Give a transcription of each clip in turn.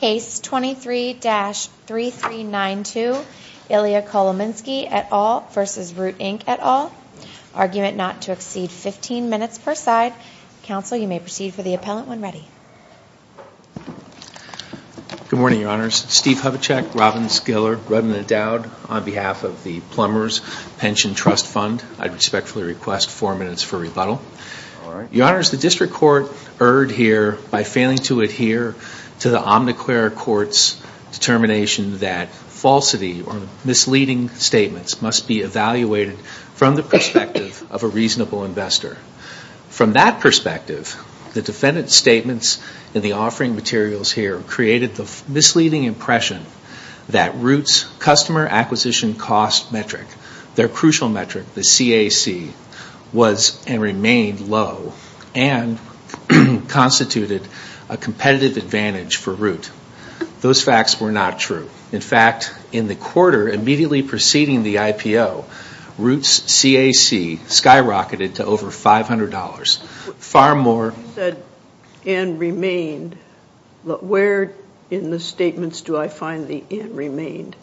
Case 23-3392, Ilia Kolominsky et al. v. Root Inc. et al. Argument not to exceed 15 minutes per side. Counsel, you may proceed for the appellant when ready. Good morning, Your Honors. Steve Hubachek, Robbins, Giller, Rudman and Dowd on behalf of the Plumbers Pension Trust Fund. I respectfully request four minutes for rebuttal. Your Honors, the District Court erred here by failing to adhere to the Omniclerc Court's determination that falsity or misleading statements must be evaluated from the perspective of a reasonable investor. From that perspective, the defendant's statements in the offering materials here created the misleading impression that Root's customer acquisition cost metric, their crucial metric, the CAC, was and remained low and constituted a competitive advantage for Root. Those facts were not true. In fact, in the quarter immediately preceding the IPO, Root's CAC skyrocketed to over $500, far more. You said and remained. Where in the statements do I find the and remained?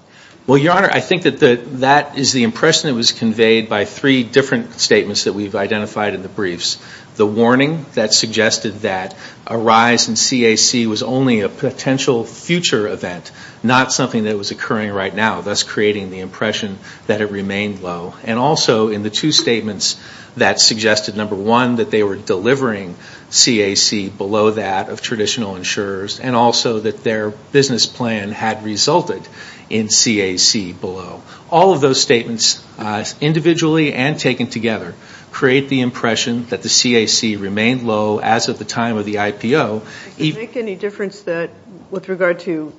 Well, Your Honor, I think that that is the impression that was conveyed by three different statements that we've identified in the briefs. The warning that suggested that a rise in CAC was only a potential future event, not something that was occurring right now, thus creating the impression that it remained low. And also in the two statements that suggested, number one, that they were delivering CAC below that of traditional insurers and also that their business plan had resulted in CAC below. All of those statements individually and taken together create the impression that the CAC remained low as of the time of the IPO. Does it make any difference that, with regard to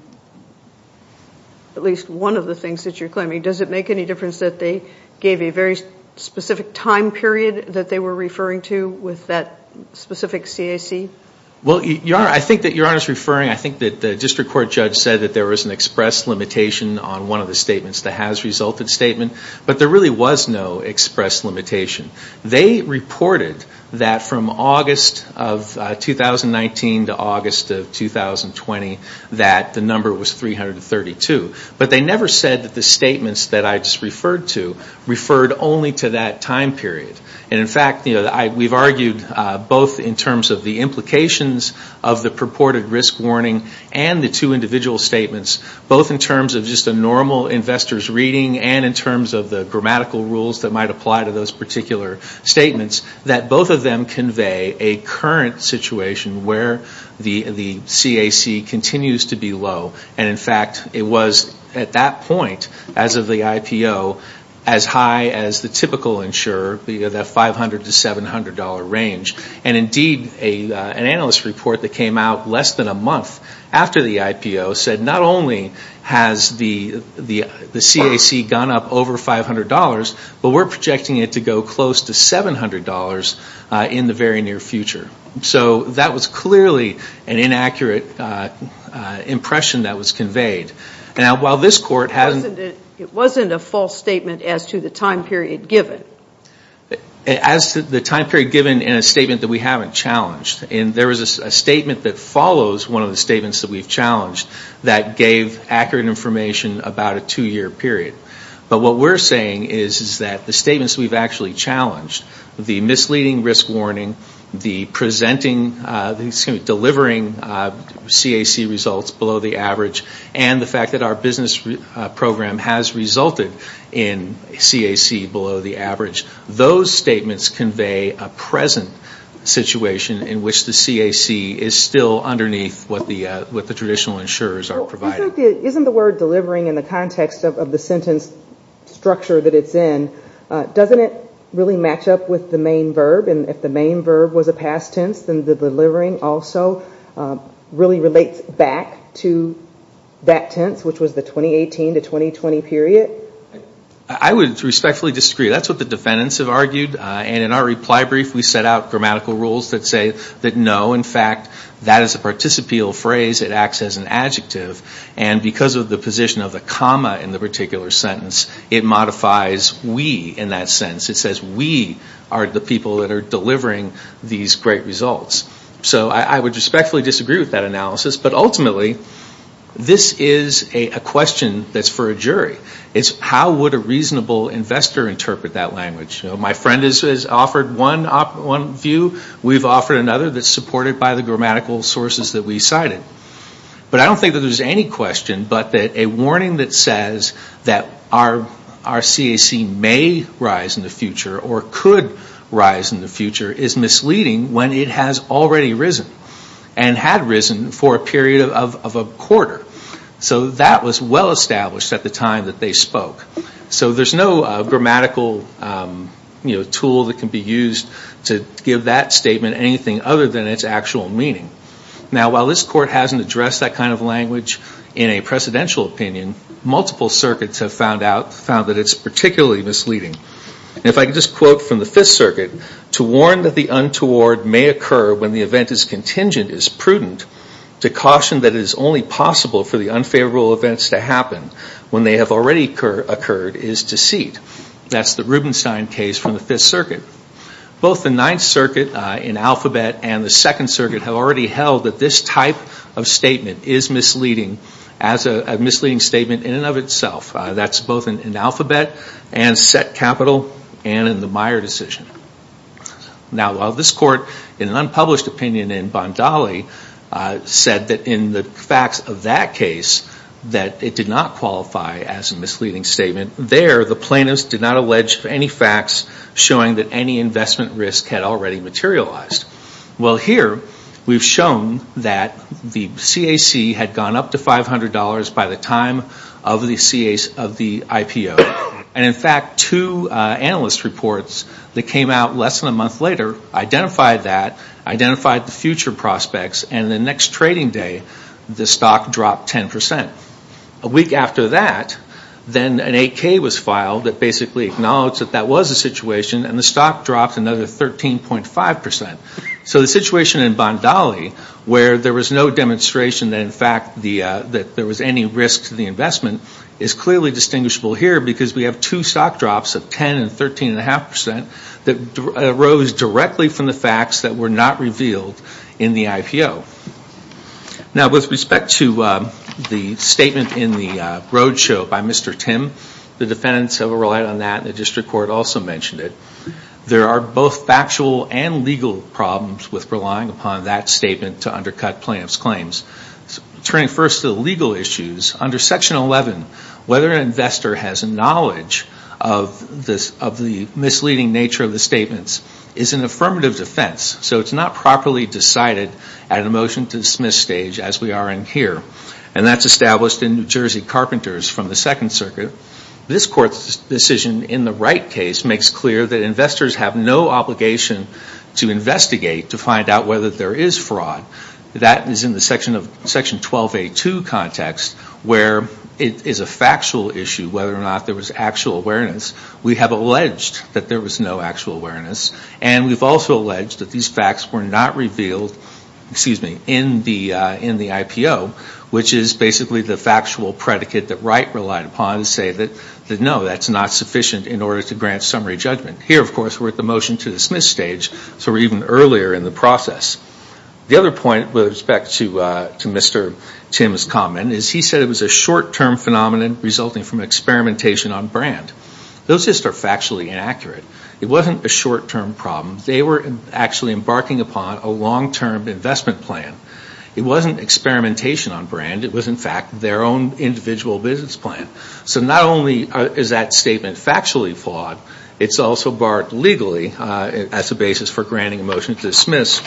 at least one of the things that you're claiming, does it make any difference that they gave a very specific time period that they were referring to with that specific CAC? Well, Your Honor, I think that Your Honor is referring, I think that the district court judge said that there was an express limitation on one of the has-resulted statements, but there really was no express limitation. They reported that from August of 2019 to August of 2020 that the number was 332. But they never said that the statements that I just referred to referred only to that time period. And in fact, we've argued both in terms of the implications of the purported risk warning and the two individual statements, both in terms of just a normal investor's reading and in terms of the grammatical rules that might apply to those particular statements, that both of them convey a current situation where the CAC continues to be low. And in fact, it was at that point as of the IPO as high as the typical insurer, the $500 to $700 range. And indeed, an analyst report that came out less than a month after the IPO said not only has the CAC gone up over $500, but we're projecting it to go close to $700 in the very near future. So that was clearly an inaccurate impression that was conveyed. Now, while this court hasn't... It wasn't a false statement as to the time period given. As to the time period given in a statement that we haven't challenged. And there was a one of the statements that we've challenged that gave accurate information about a two-year period. But what we're saying is that the statements we've actually challenged, the misleading risk warning, the presenting, the delivering CAC results below the average, and the fact that our business program has resulted in CAC below the average, those statements convey a present situation in which the CAC is still underneath what the traditional insurers are providing. Isn't the word delivering in the context of the sentence structure that it's in, doesn't it really match up with the main verb? And if the main verb was a past tense, then the delivering also really relates back to that tense, which was the 2018 to 2020 period? I would respectfully disagree. That's what the defendants have argued. And in our that no, in fact, that is a participial phrase. It acts as an adjective. And because of the position of the comma in the particular sentence, it modifies we in that sentence. It says we are the people that are delivering these great results. So I would respectfully disagree with that analysis. But ultimately, this is a question that's for a jury. It's how would a reasonable investor interpret that language? My friend has offered one view. We've offered another that's supported by the grammatical sources that we cited. But I don't think that there's any question but that a warning that says that our CAC may rise in the future or could rise in the future is misleading when it has already risen and had risen for a period of a quarter. So that was well established at the time that they spoke. So there's no grammatical tool that can be used to give that statement anything other than its actual meaning. Now, while this court hasn't addressed that kind of language in a precedential opinion, multiple circuits have found out, found that it's particularly misleading. And if I could just quote from the Fifth Circuit, to warn that the untoward may occur when the event is contingent is prudent. To caution that it is only possible for the unfavorable events to happen when they have already occurred is deceit. That's the Rubenstein case from the Fifth Circuit. Both the Ninth Circuit in alphabet and the Second Circuit have already held that this type of statement is misleading as a misleading statement in and of itself. That's both in alphabet and set capital and in the Meyer decision. Now, while this court in an unpublished opinion in Bondali said that in the facts of that case that it did not qualify as a misleading statement, there the plaintiffs did not allege any facts showing that any investment risk had already materialized. Well, here, we've shown that the CAC had gone up to $500 by the time of the IPO. And in fact, two analyst reports that came out less than a month later identified that, identified the future prospects, and the next trading day, the stock dropped 10%. A week after that, then an 8K was filed that basically acknowledged that that was a situation and the stock dropped another 13.5%. So the situation in Bondali where there was no demonstration that in fact there was any risk to the investment is clearly distinguishable here because we have two stock drops of 10% and 13.5% that arose directly from the facts that were not revealed in the IPO. Now, with respect to the statement in the roadshow by Mr. Tim, the defendants have relied on that and the district court also mentioned it. There are both factual and legal problems with relying upon that statement to undercut plaintiffs' claims. Turning first to the legal issues, under Section 11, whether an investor has knowledge of the misleading nature of the statements is an affirmative defense. So it's not properly decided at a motion to dismiss stage as we are in here. And that's established in New Jersey Carpenters from the Second Circuit. This Court's decision in the Wright case makes clear that investors have no obligation to investigate to find out whether there is fraud. That is in the Section 12A2 context where it is a factual issue whether or not there was actual awareness. We have alleged that there was no actual awareness and we have also alleged that these facts were not revealed in the IPO, which is basically the factual predicate that Wright relied upon to say that no, that's not sufficient in order to grant summary judgment. Here, of course, we are at the motion to dismiss stage, so we are even earlier in the process. The other point with respect to Mr. Tim's comment is he said it was a short-term phenomenon resulting from experimentation on brand. Those lists are actually inaccurate. It wasn't a short-term problem. They were actually embarking upon a long-term investment plan. It wasn't experimentation on brand. It was, in fact, their own individual business plan. So not only is that statement factually flawed, it's also barred legally as a basis for granting a motion to dismiss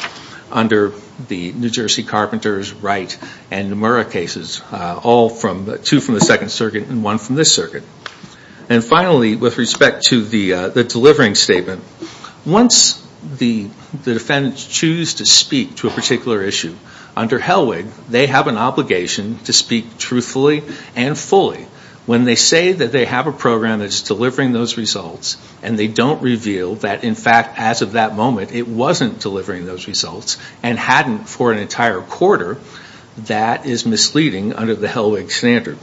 under the New Jersey Carpenters, Wright, and Nomura cases, all from, two from the Second Circuit and one from this circuit. And finally, with respect to the delivering statement, once the defendants choose to speak to a particular issue, under Hellwig, they have an obligation to speak truthfully and fully. When they say that they have a program that is delivering those results and they don't reveal that, in fact, as of that moment, it wasn't delivering those results and hadn't for an entire quarter, that is misleading under the Hellwig standard.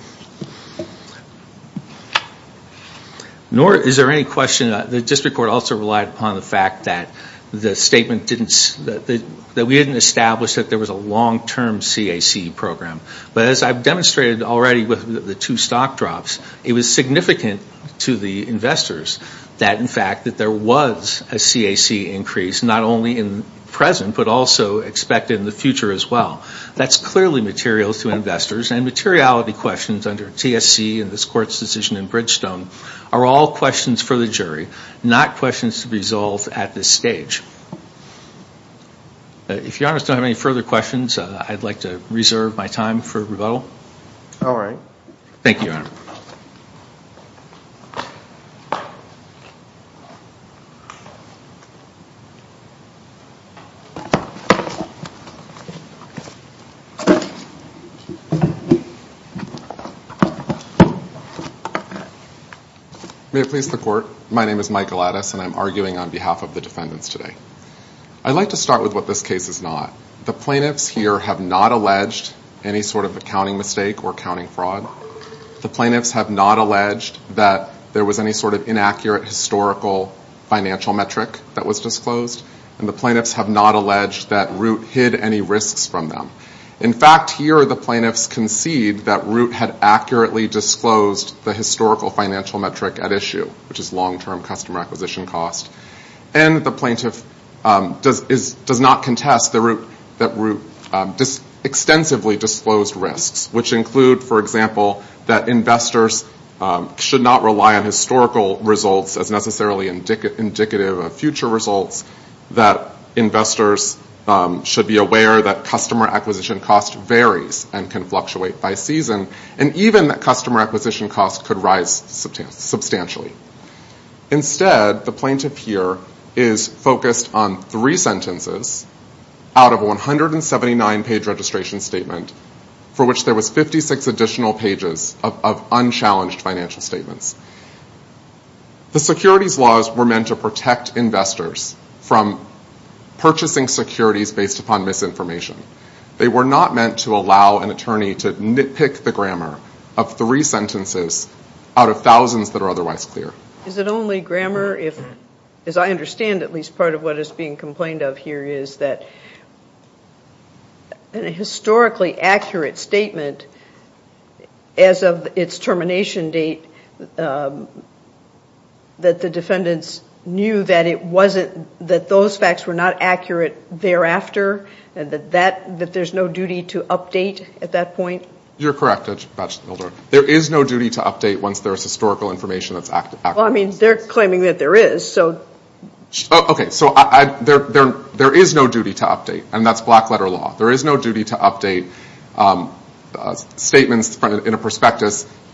Nor is there any question that the district court also relied upon the fact that the statement didn't, that we didn't establish that there was a long-term CAC program. But as I've demonstrated already with the two stock drops, it was significant to the investors that, in fact, that there was a CAC increase, not only in the present but also expected in the future as well. That's clearly material to investors and materiality questions under TSC and this court's decision in Bridgestone are all questions for the jury, not questions to be resolved at this stage. If your honors don't have any further questions, I'd like to reserve my time for rebuttal. All right. Thank you, your honor. May it please the court, my name is Mike Galatis and I'm arguing on behalf of the defendants today. I'd like to start with what this case is not. The plaintiffs here have not alleged any sort of accounting mistake or accounting fraud. The plaintiffs have not alleged that there was any sort of inaccurate historical financial metric that was disclosed and the plaintiffs have not alleged that Root hid any risks from them. In fact, here the plaintiffs concede that Root had accurately disclosed the historical financial metric at issue, which is long-term customer acquisition cost, and the plaintiff does not contest that Root extensively disclosed risks, which include, for example, that investors should not rely on historical results as necessarily indicative of future results, that investors should be aware that customer acquisition cost varies and can fluctuate by season, and even that customer acquisition cost could rise substantially. Instead, the plaintiff here is focused on three sentences out of a 179-page registration statement for which there was 56 additional pages of unchallenged financial statements. The securities laws were meant to protect investors from purchasing securities based upon misinformation. They were not meant to allow an attorney to nitpick the grammar of three sentences out of thousands that are otherwise clear. Is it only grammar if, as I understand at least part of what is being complained of here, is that in a historically accurate statement, as of its termination date, that the defendants knew that those facts were not accurate thereafter, and that there's no duty to update at that point? You're correct. There is no duty to update once there is historical information that's accurate. Well, I mean, they're claiming that there is, so... Okay, so there is no duty to update, and that's black-letter law. There is no duty to update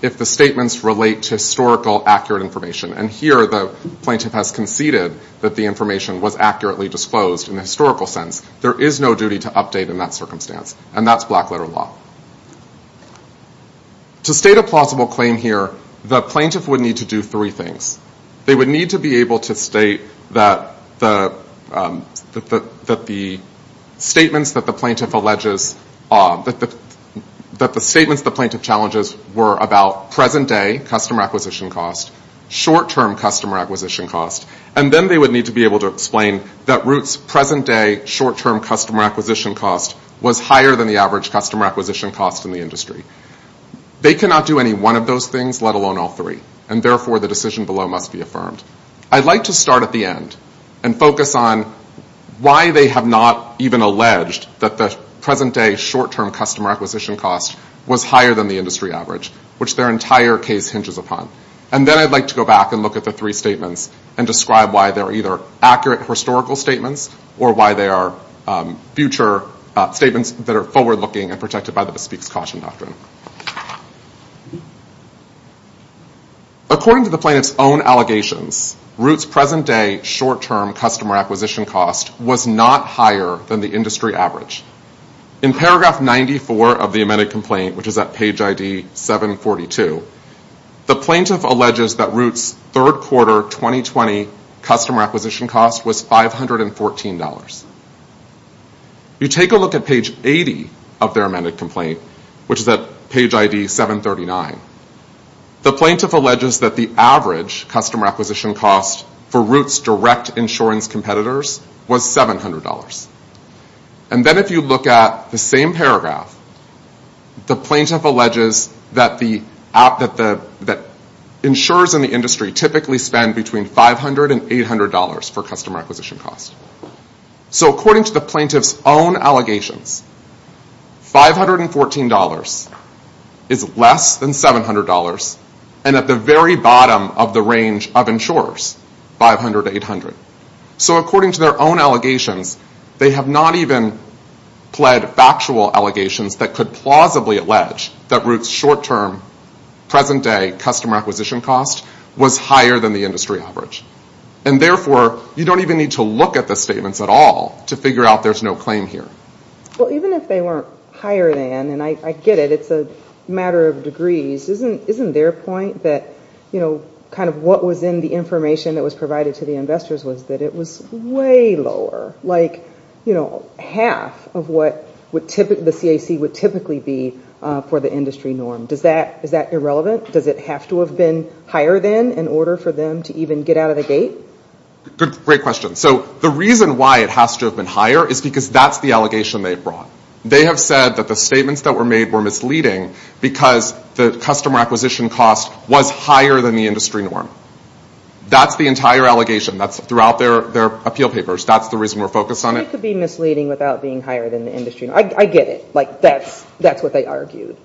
if the statements relate to historical accurate information, and here the plaintiff has conceded that the information was accurately disclosed in a historical sense. There is no duty to update in that circumstance, and that's black-letter law. To state a plausible claim here, the plaintiff would need to do three things. They would need to be able to state that the statements that the plaintiff challenges were about present-day customer acquisition costs, short-term customer acquisition costs, and then they would need to be able to explain that Roots' present-day short-term customer acquisition cost was higher than the average customer acquisition cost in the industry. They cannot do any one of those things, let alone all three, and therefore the decision below must be affirmed. I'd like to start at the end and focus on why they have not even alleged that Roots' present-day short-term customer acquisition cost was higher than the industry average, which their entire case hinges upon, and then I'd like to go back and look at the three statements and describe why they are either accurate historical statements or why they are future statements that are forward-looking and protected by the Bespeak's Caution Doctrine. According to the plaintiff's own allegations, Roots' present-day short-term acquisition cost was not higher than the industry average. In paragraph 94 of the amended complaint, which is at page ID 742, the plaintiff alleges that Roots' third quarter 2020 customer acquisition cost was $514. You take a look at page 80 of their amended complaint, which is at page ID 739. The plaintiff alleges that the average customer acquisition cost for Roots' direct insurance competitors was $700. And then if you look at the same paragraph, the plaintiff alleges that insurers in the industry typically spend between $500 and $800 for customer acquisition cost. So according to the plaintiff's own allegations, $514 is less than $700 and at the very bottom of the range of insurers, $500 to $800. So according to their own allegations, they have not even pled factual allegations that could plausibly allege that Roots' short-term, present-day customer acquisition cost was higher than the industry average. And therefore, you don't even need to look at the statements at all to figure out there's no claim here. Well, even if they weren't higher than, and I get it, it's a matter of degrees, isn't their point that kind of what was in the information that was provided to the investors was that it was way lower, like half of what the CAC would typically be for the industry norm? Is that irrelevant? Does it have to have been higher than in order for them to even get out of the gate? Great question. So the reason why it has to have been higher is because that's the allegation they've brought. They have said that the statements that were made were misleading because the customer acquisition cost was higher than the industry norm. That's the entire allegation. That's throughout their appeal papers. That's the reason we're focused on it. It could be misleading without being higher than the industry norm. I get it. That's what they argued.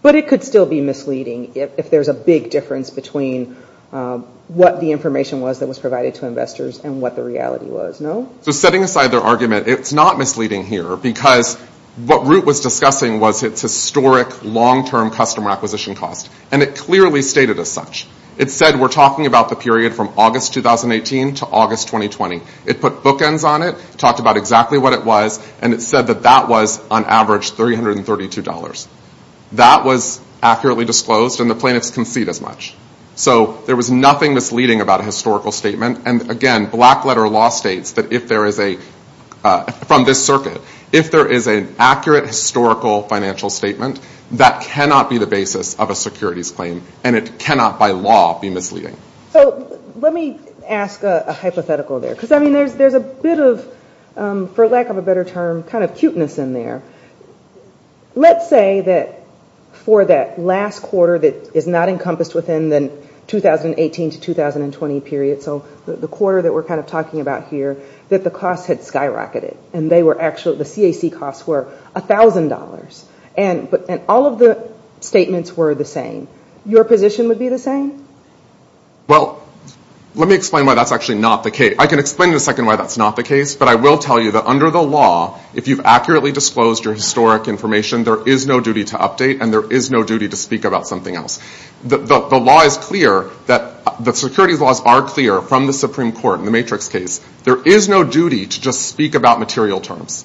But it could still be misleading if there's a big difference between what the information was that was provided to investors and what the reality was, no? Setting aside their argument, it's not misleading here because what Root was discussing was its historic long-term customer acquisition cost. And it clearly stated as such. It said we're talking about the period from August 2018 to August 2020. It put bookends on it, talked about exactly what it was, and it said that that was on average $332. That was accurately disclosed and the plaintiffs concede as much. So there was nothing misleading about a historical statement. And again, black letter law states that if there is a, from this circuit, if there is an accurate historical financial statement, that cannot be the basis of a securities claim. And it cannot by law be misleading. So let me ask a hypothetical there. Because there's a bit of, for lack of a better term, kind of cuteness in there. Let's say that for that last quarter that is not encompassed within the 2018 to 2020 period, so the quarter that we're kind of talking about here, that the costs had skyrocketed. And they were actually, the CAC costs were $1,000. And all of the statements were the same. Your position would be the same? Well, let me explain why that's actually not the case. I can explain in a second why that's not the case, but I will tell you that under the law, if you've accurately disclosed your historic information, there is no duty to update and there is no duty to speak about something else. The law is clear that, the securities laws are clear from the Supreme Court in the matrix case. There is no duty to just speak about material terms.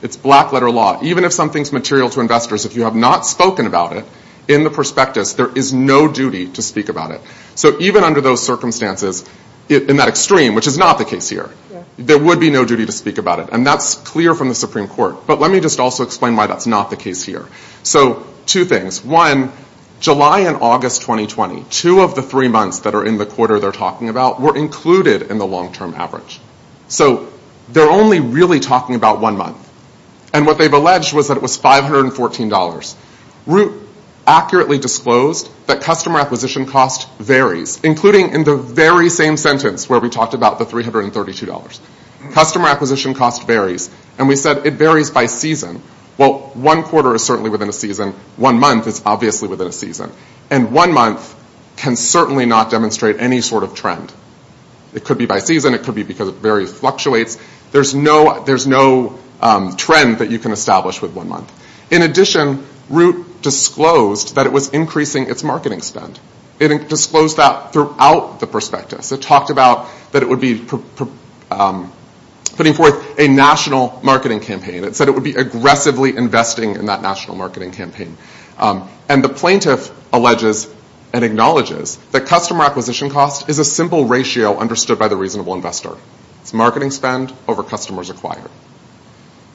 It's black letter law. Even if something's material to investors, if you have not spoken about it, in the prospectus, there is no duty to speak about it. So even under those circumstances, in that extreme, which is not the case here, there would be no duty to speak about it. And that's clear from the Supreme Court. But let me just also explain why that's not the case here. So two things. One, July and August 2020, two of the three months that are in the quarter they're talking about, were included in the long-term average. So they're only really talking about one month. And what they've alleged was that it was $514. Root accurately disclosed that customer acquisition cost varies, including in the very same sentence where we talked about the $332. Customer acquisition cost varies. And we said it varies by season. Well, one quarter is certainly within a season. One month is obviously within a season. And one month can certainly not demonstrate any sort of trend. It could be by season. It could be because it fluctuates. There's no trend that you can establish with one month. In addition, Root disclosed that it was increasing its marketing spend. It disclosed that throughout the prospectus. It talked about that it would be putting forth a national marketing campaign. It said it would be aggressively investing in that national marketing campaign. And the plaintiff alleges and acknowledges that customer acquisition cost is a simple ratio understood by the reasonable investor. It's marketing spend over customers acquired.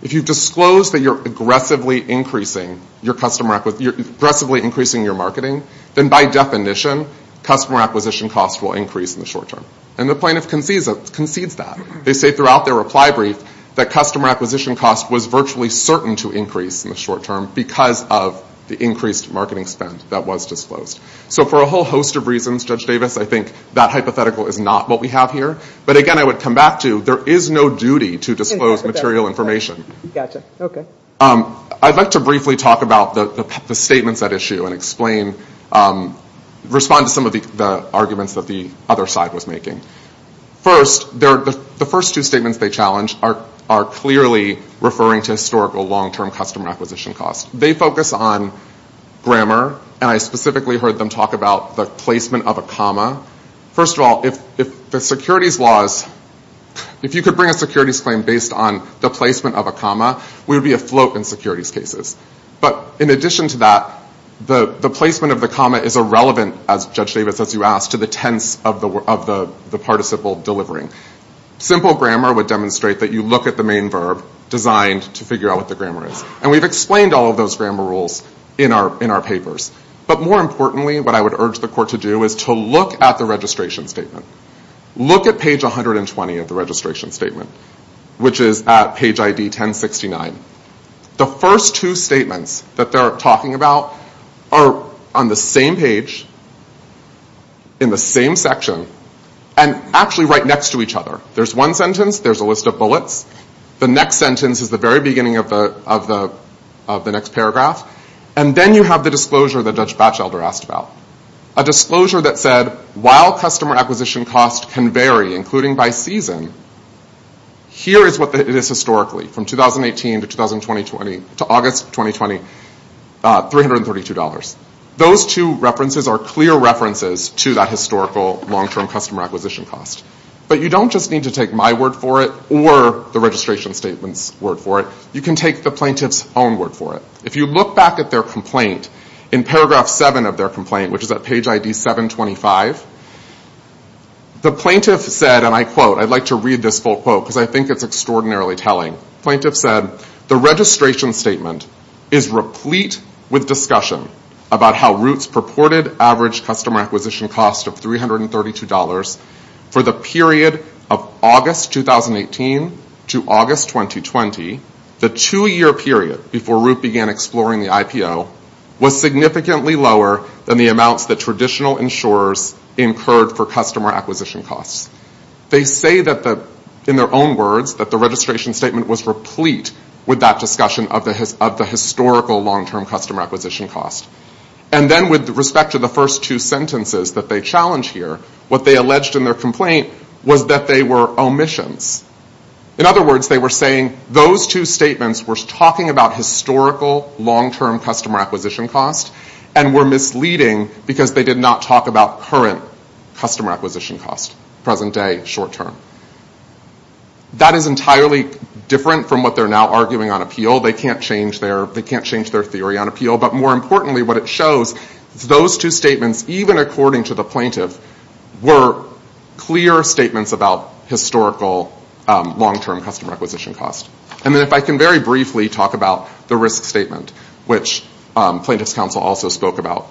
If you've disclosed that you're aggressively increasing your marketing, then by definition, customer acquisition cost will increase in the short term. And the plaintiff concedes that. They say throughout their reply brief that customer acquisition cost was virtually certain to increase in the short term because of the increased marketing spend that was disclosed. So for a whole host of reasons, Judge Davis, I think that hypothetical is not what we have here. But again, I would come back to there is no duty to disclose material information. I'd like to briefly talk about the statements at issue and respond to some of the arguments that the other side was making. First, the first two statements they challenged are clearly referring to historical long-term customer acquisition cost. They focus on grammar. And I specifically heard them talk about the placement of a comma. First of all, if the securities laws, if you could bring a securities claim based on the placement of a comma, we would be afloat in securities cases. But in addition to that, the placement of the comma is irrelevant, as Judge Davis, as you asked, to the tense of the participle delivering. Simple grammar would demonstrate that you look at the main verb designed to figure out what the grammar is. And we've explained all of those grammar rules in our papers. But more importantly, what I would urge the court to do is to look at the registration statement. Look at page 120 of the registration statement, which is at page ID 1069. The first two statements that they're talking about are on the same page, in the same section, and actually right next to each other. There's one sentence, there's a list of bullets. The next sentence is the very beginning of the next paragraph. And then you have the disclosure that Judge Batchelder asked about. A disclosure that said, while customer acquisition costs can vary, including by season, here is what it is historically, from 2018 to August 2020, $332. Those two references are clear references to that historical long-term customer acquisition cost. But you don't just need to take my word for it, or the registration statement's word for it. You can take the plaintiff's own word for it. If you look back at their complaint, in paragraph 7 of their complaint, which is at page ID 725, the plaintiff said, and I quote, I'd like to read this full quote, because I think it's extraordinarily telling. Plaintiff said, the registration statement is replete with discussion about how Roots purported average customer acquisition cost of $332 for the period of August 2018 to August 2020, the two-year period before Root began exploring the IPO, was significantly lower than the amounts that traditional insurers incurred for customer acquisition. In their own words, that the registration statement was replete with that discussion of the historical long-term customer acquisition cost. And then with respect to the first two sentences that they challenge here, what they alleged in their complaint was that they were omissions. In other words, they were saying those two statements were talking about historical long-term customer acquisition cost, and were misleading because they did not talk about current customer acquisition cost, present day, short term. That is entirely different from what they're now arguing on appeal. They can't change their theory on appeal, but more importantly, what it shows is those two statements, even according to the plaintiff, were clear statements about historical long-term customer acquisition cost. And then if I can very briefly talk about the risk statement, which plaintiff's counsel also spoke about,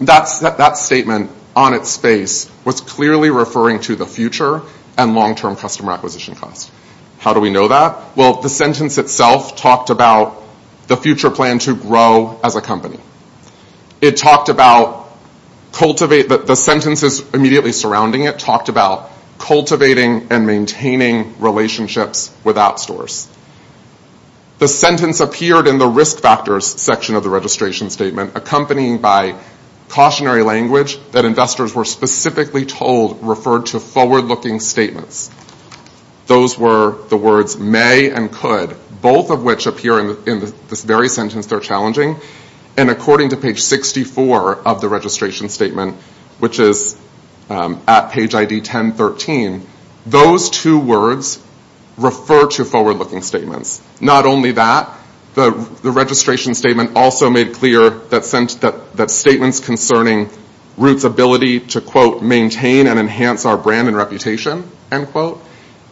that statement on its face was clearly referring to the future and long-term customer acquisition cost. How do we know that? Well, the sentence itself talked about the future plan to grow as a company. It talked about cultivate, the sentences immediately surrounding it talked about cultivating and maintaining relationships with app stores. The sentence appeared in the risk factors section of the registration statement, accompanied by cautionary language that investors were specifically told referred to forward-looking statements. Those were the words may and could, both of which appear in this very sentence they're challenging. And according to page 64 of the registration statement, which is at page ID 1013, those two words refer to forward-looking statements. Not only that, the registration statement also made clear that statements concerning Roots' ability to, quote, maintain and enhance our brand and reputation, end quote,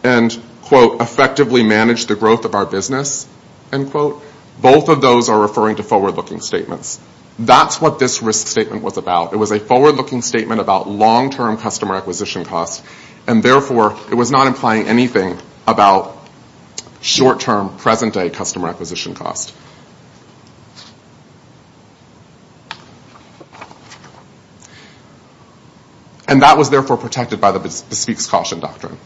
and, quote, effectively manage the growth of our business, end quote, both of those are referring to forward-looking statements. That's what this risk statement was about. It was a forward-looking statement about long-term customer acquisition costs, and, therefore, it was not implying anything about short-term, present-day customer acquisition costs. And that was, therefore, protected by the Bespeak's Caution Doctrine.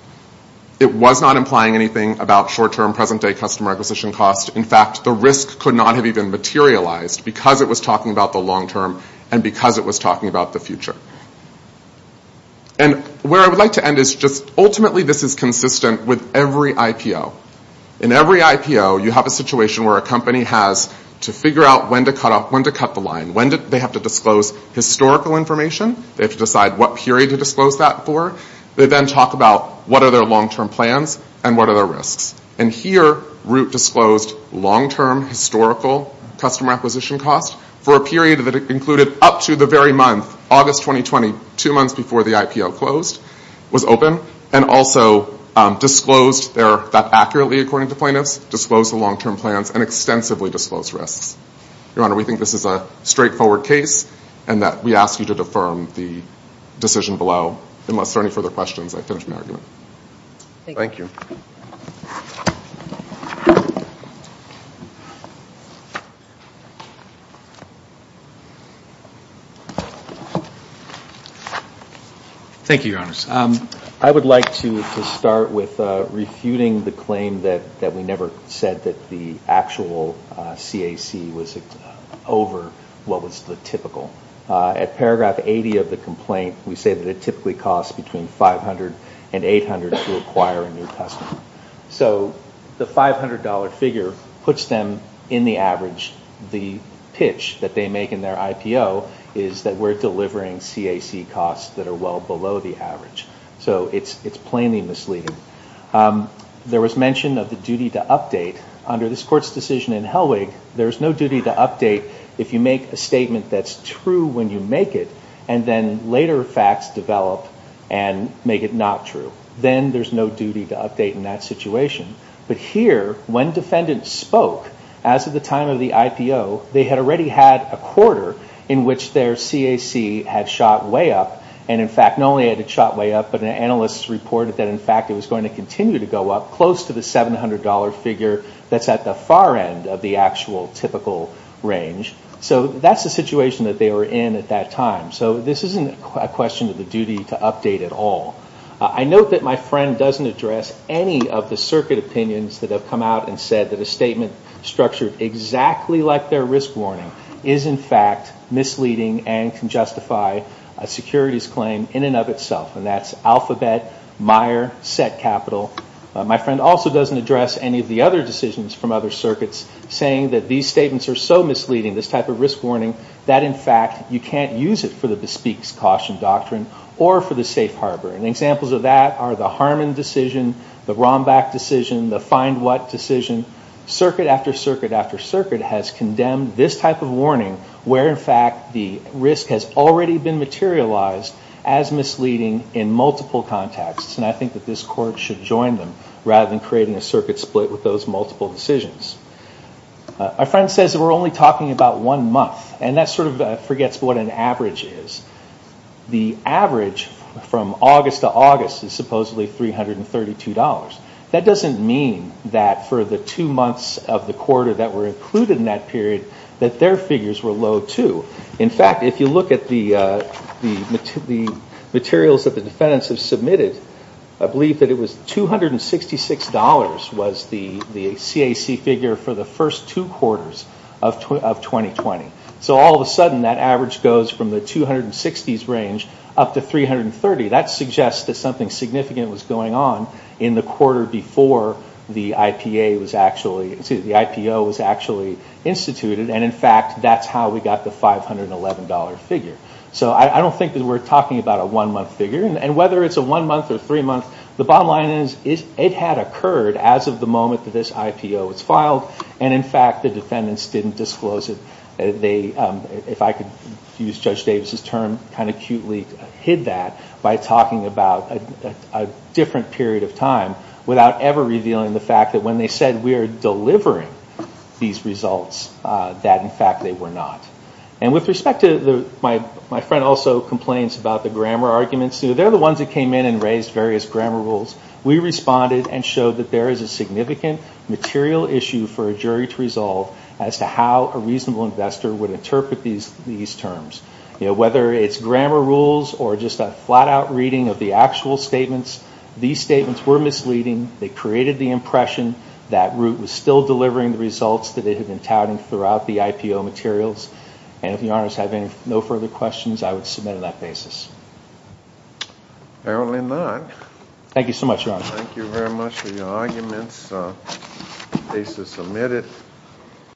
It was not implying anything about short-term, present-day customer acquisition costs. In fact, the risk could not have even materialized because it was talking about the long-term and because it was talking about the future. And where I would like to end is just, ultimately, this is consistent with every IPO. In every IPO, you have a situation where a company has to figure out when to cut off, when to cut the line. When do they have to disclose historical information? They have to decide what period to disclose that for. They then talk about what are their long-term plans and what are their risks. And here, Root disclosed long-term historical customer acquisition costs for a period that included up to the very month, August 2020, two months before the IPO closed, was open, and also disclosed their, that accurately, according to plaintiffs, disclosed the long-term plans and extensively disclosed risks. Your Honor, we think this is a straightforward case and that we ask you to defer the decision below. Unless there are any further questions, I finish my argument. Thank you. Thank you, Your Honors. I would like to start with refuting the claim that we never said that the actual CAC was over what was the typical. At paragraph 80 of the complaint, we say that it typically costs between $500 and $800 to acquire a new customer. So the $500 figure puts them in the average. The pitch that they make in their IPO is that we're delivering CAC costs that are well below the average. So it's plainly misleading. There was mention of the duty to update. Under this Court's decision in Hellwig, there is no duty to update if you make a statement that's true when you make it, and then later facts develop and make it not true. Then there's no duty to update in that situation. But here, when defendants spoke, as of the time of the IPO, they had already had a quarter in which their CAC had shot way up. And in fact, not only had it shot way up, but an analyst reported that in fact it was going to continue to go up close to the $700 figure that's at the far end of the actual typical range. So that's the situation that they were in at that time. So this isn't a question of the duty to update at all. I note that my friend doesn't address any of the circuit opinions that have come out and said that a statement structured exactly like their risk warning is in fact misleading and can justify a securities claim in and of itself. And that's alphabet, Meyer, set capital. My friend also doesn't address any of the other decisions from other circuits saying that these statements are so misleading, this type of risk warning, that in fact you can't use it for the Bespeak's Caution Doctrine or for the Safe Harbor. And examples of that are the Harmon decision, the Rombach decision, the Find What decision. Circuit after circuit after circuit has condemned this type of warning where in fact the risk has already been materialized as misleading in multiple contexts. And I think that this court should join them rather than creating a circuit split with those multiple decisions. My friend says that we're only talking about one month. And that sort of forgets what an average is. The average from August to August is supposedly $332. That doesn't mean that for the two months of the quarter that were included in that period that their figures were low too. In fact, if you look at the materials that the defendants have submitted, I believe that it was $266 was the CAC figure for the first two quarters of 2020. So all of a sudden that average goes from the 260s range up to 330. That suggests that something significant was going on in the quarter before the IPO was actually instituted. And in fact, that's how we got the $511 figure. So I don't think that we're talking about a one month figure. And whether it's a one month or three month, the bottom line is it had occurred as of the moment that this IPO was filed. And in fact, the defendants didn't disclose it. They, if I could use Judge Davis' term, kind of cutely hid that by talking about a different period of time without ever revealing the fact that when they said we are delivering these results, that in fact they were not. And with respect to the, my friend also complains about the grammar arguments. They are the ones that came in and raised various grammar rules. We responded and showed that there is a significant material issue for a jury to resolve as to how a reasonable investor would interpret these terms. Whether it's grammar rules or just a flat out reading of the actual statements, these statements were misleading. They created the impression that Root was still delivering the results that they had been touting throughout the IPO materials. And if you have no further questions, I would submit on that basis. Apparently not. Thank you so much, Your Honor. Thank you very much for your arguments. The case is submitted.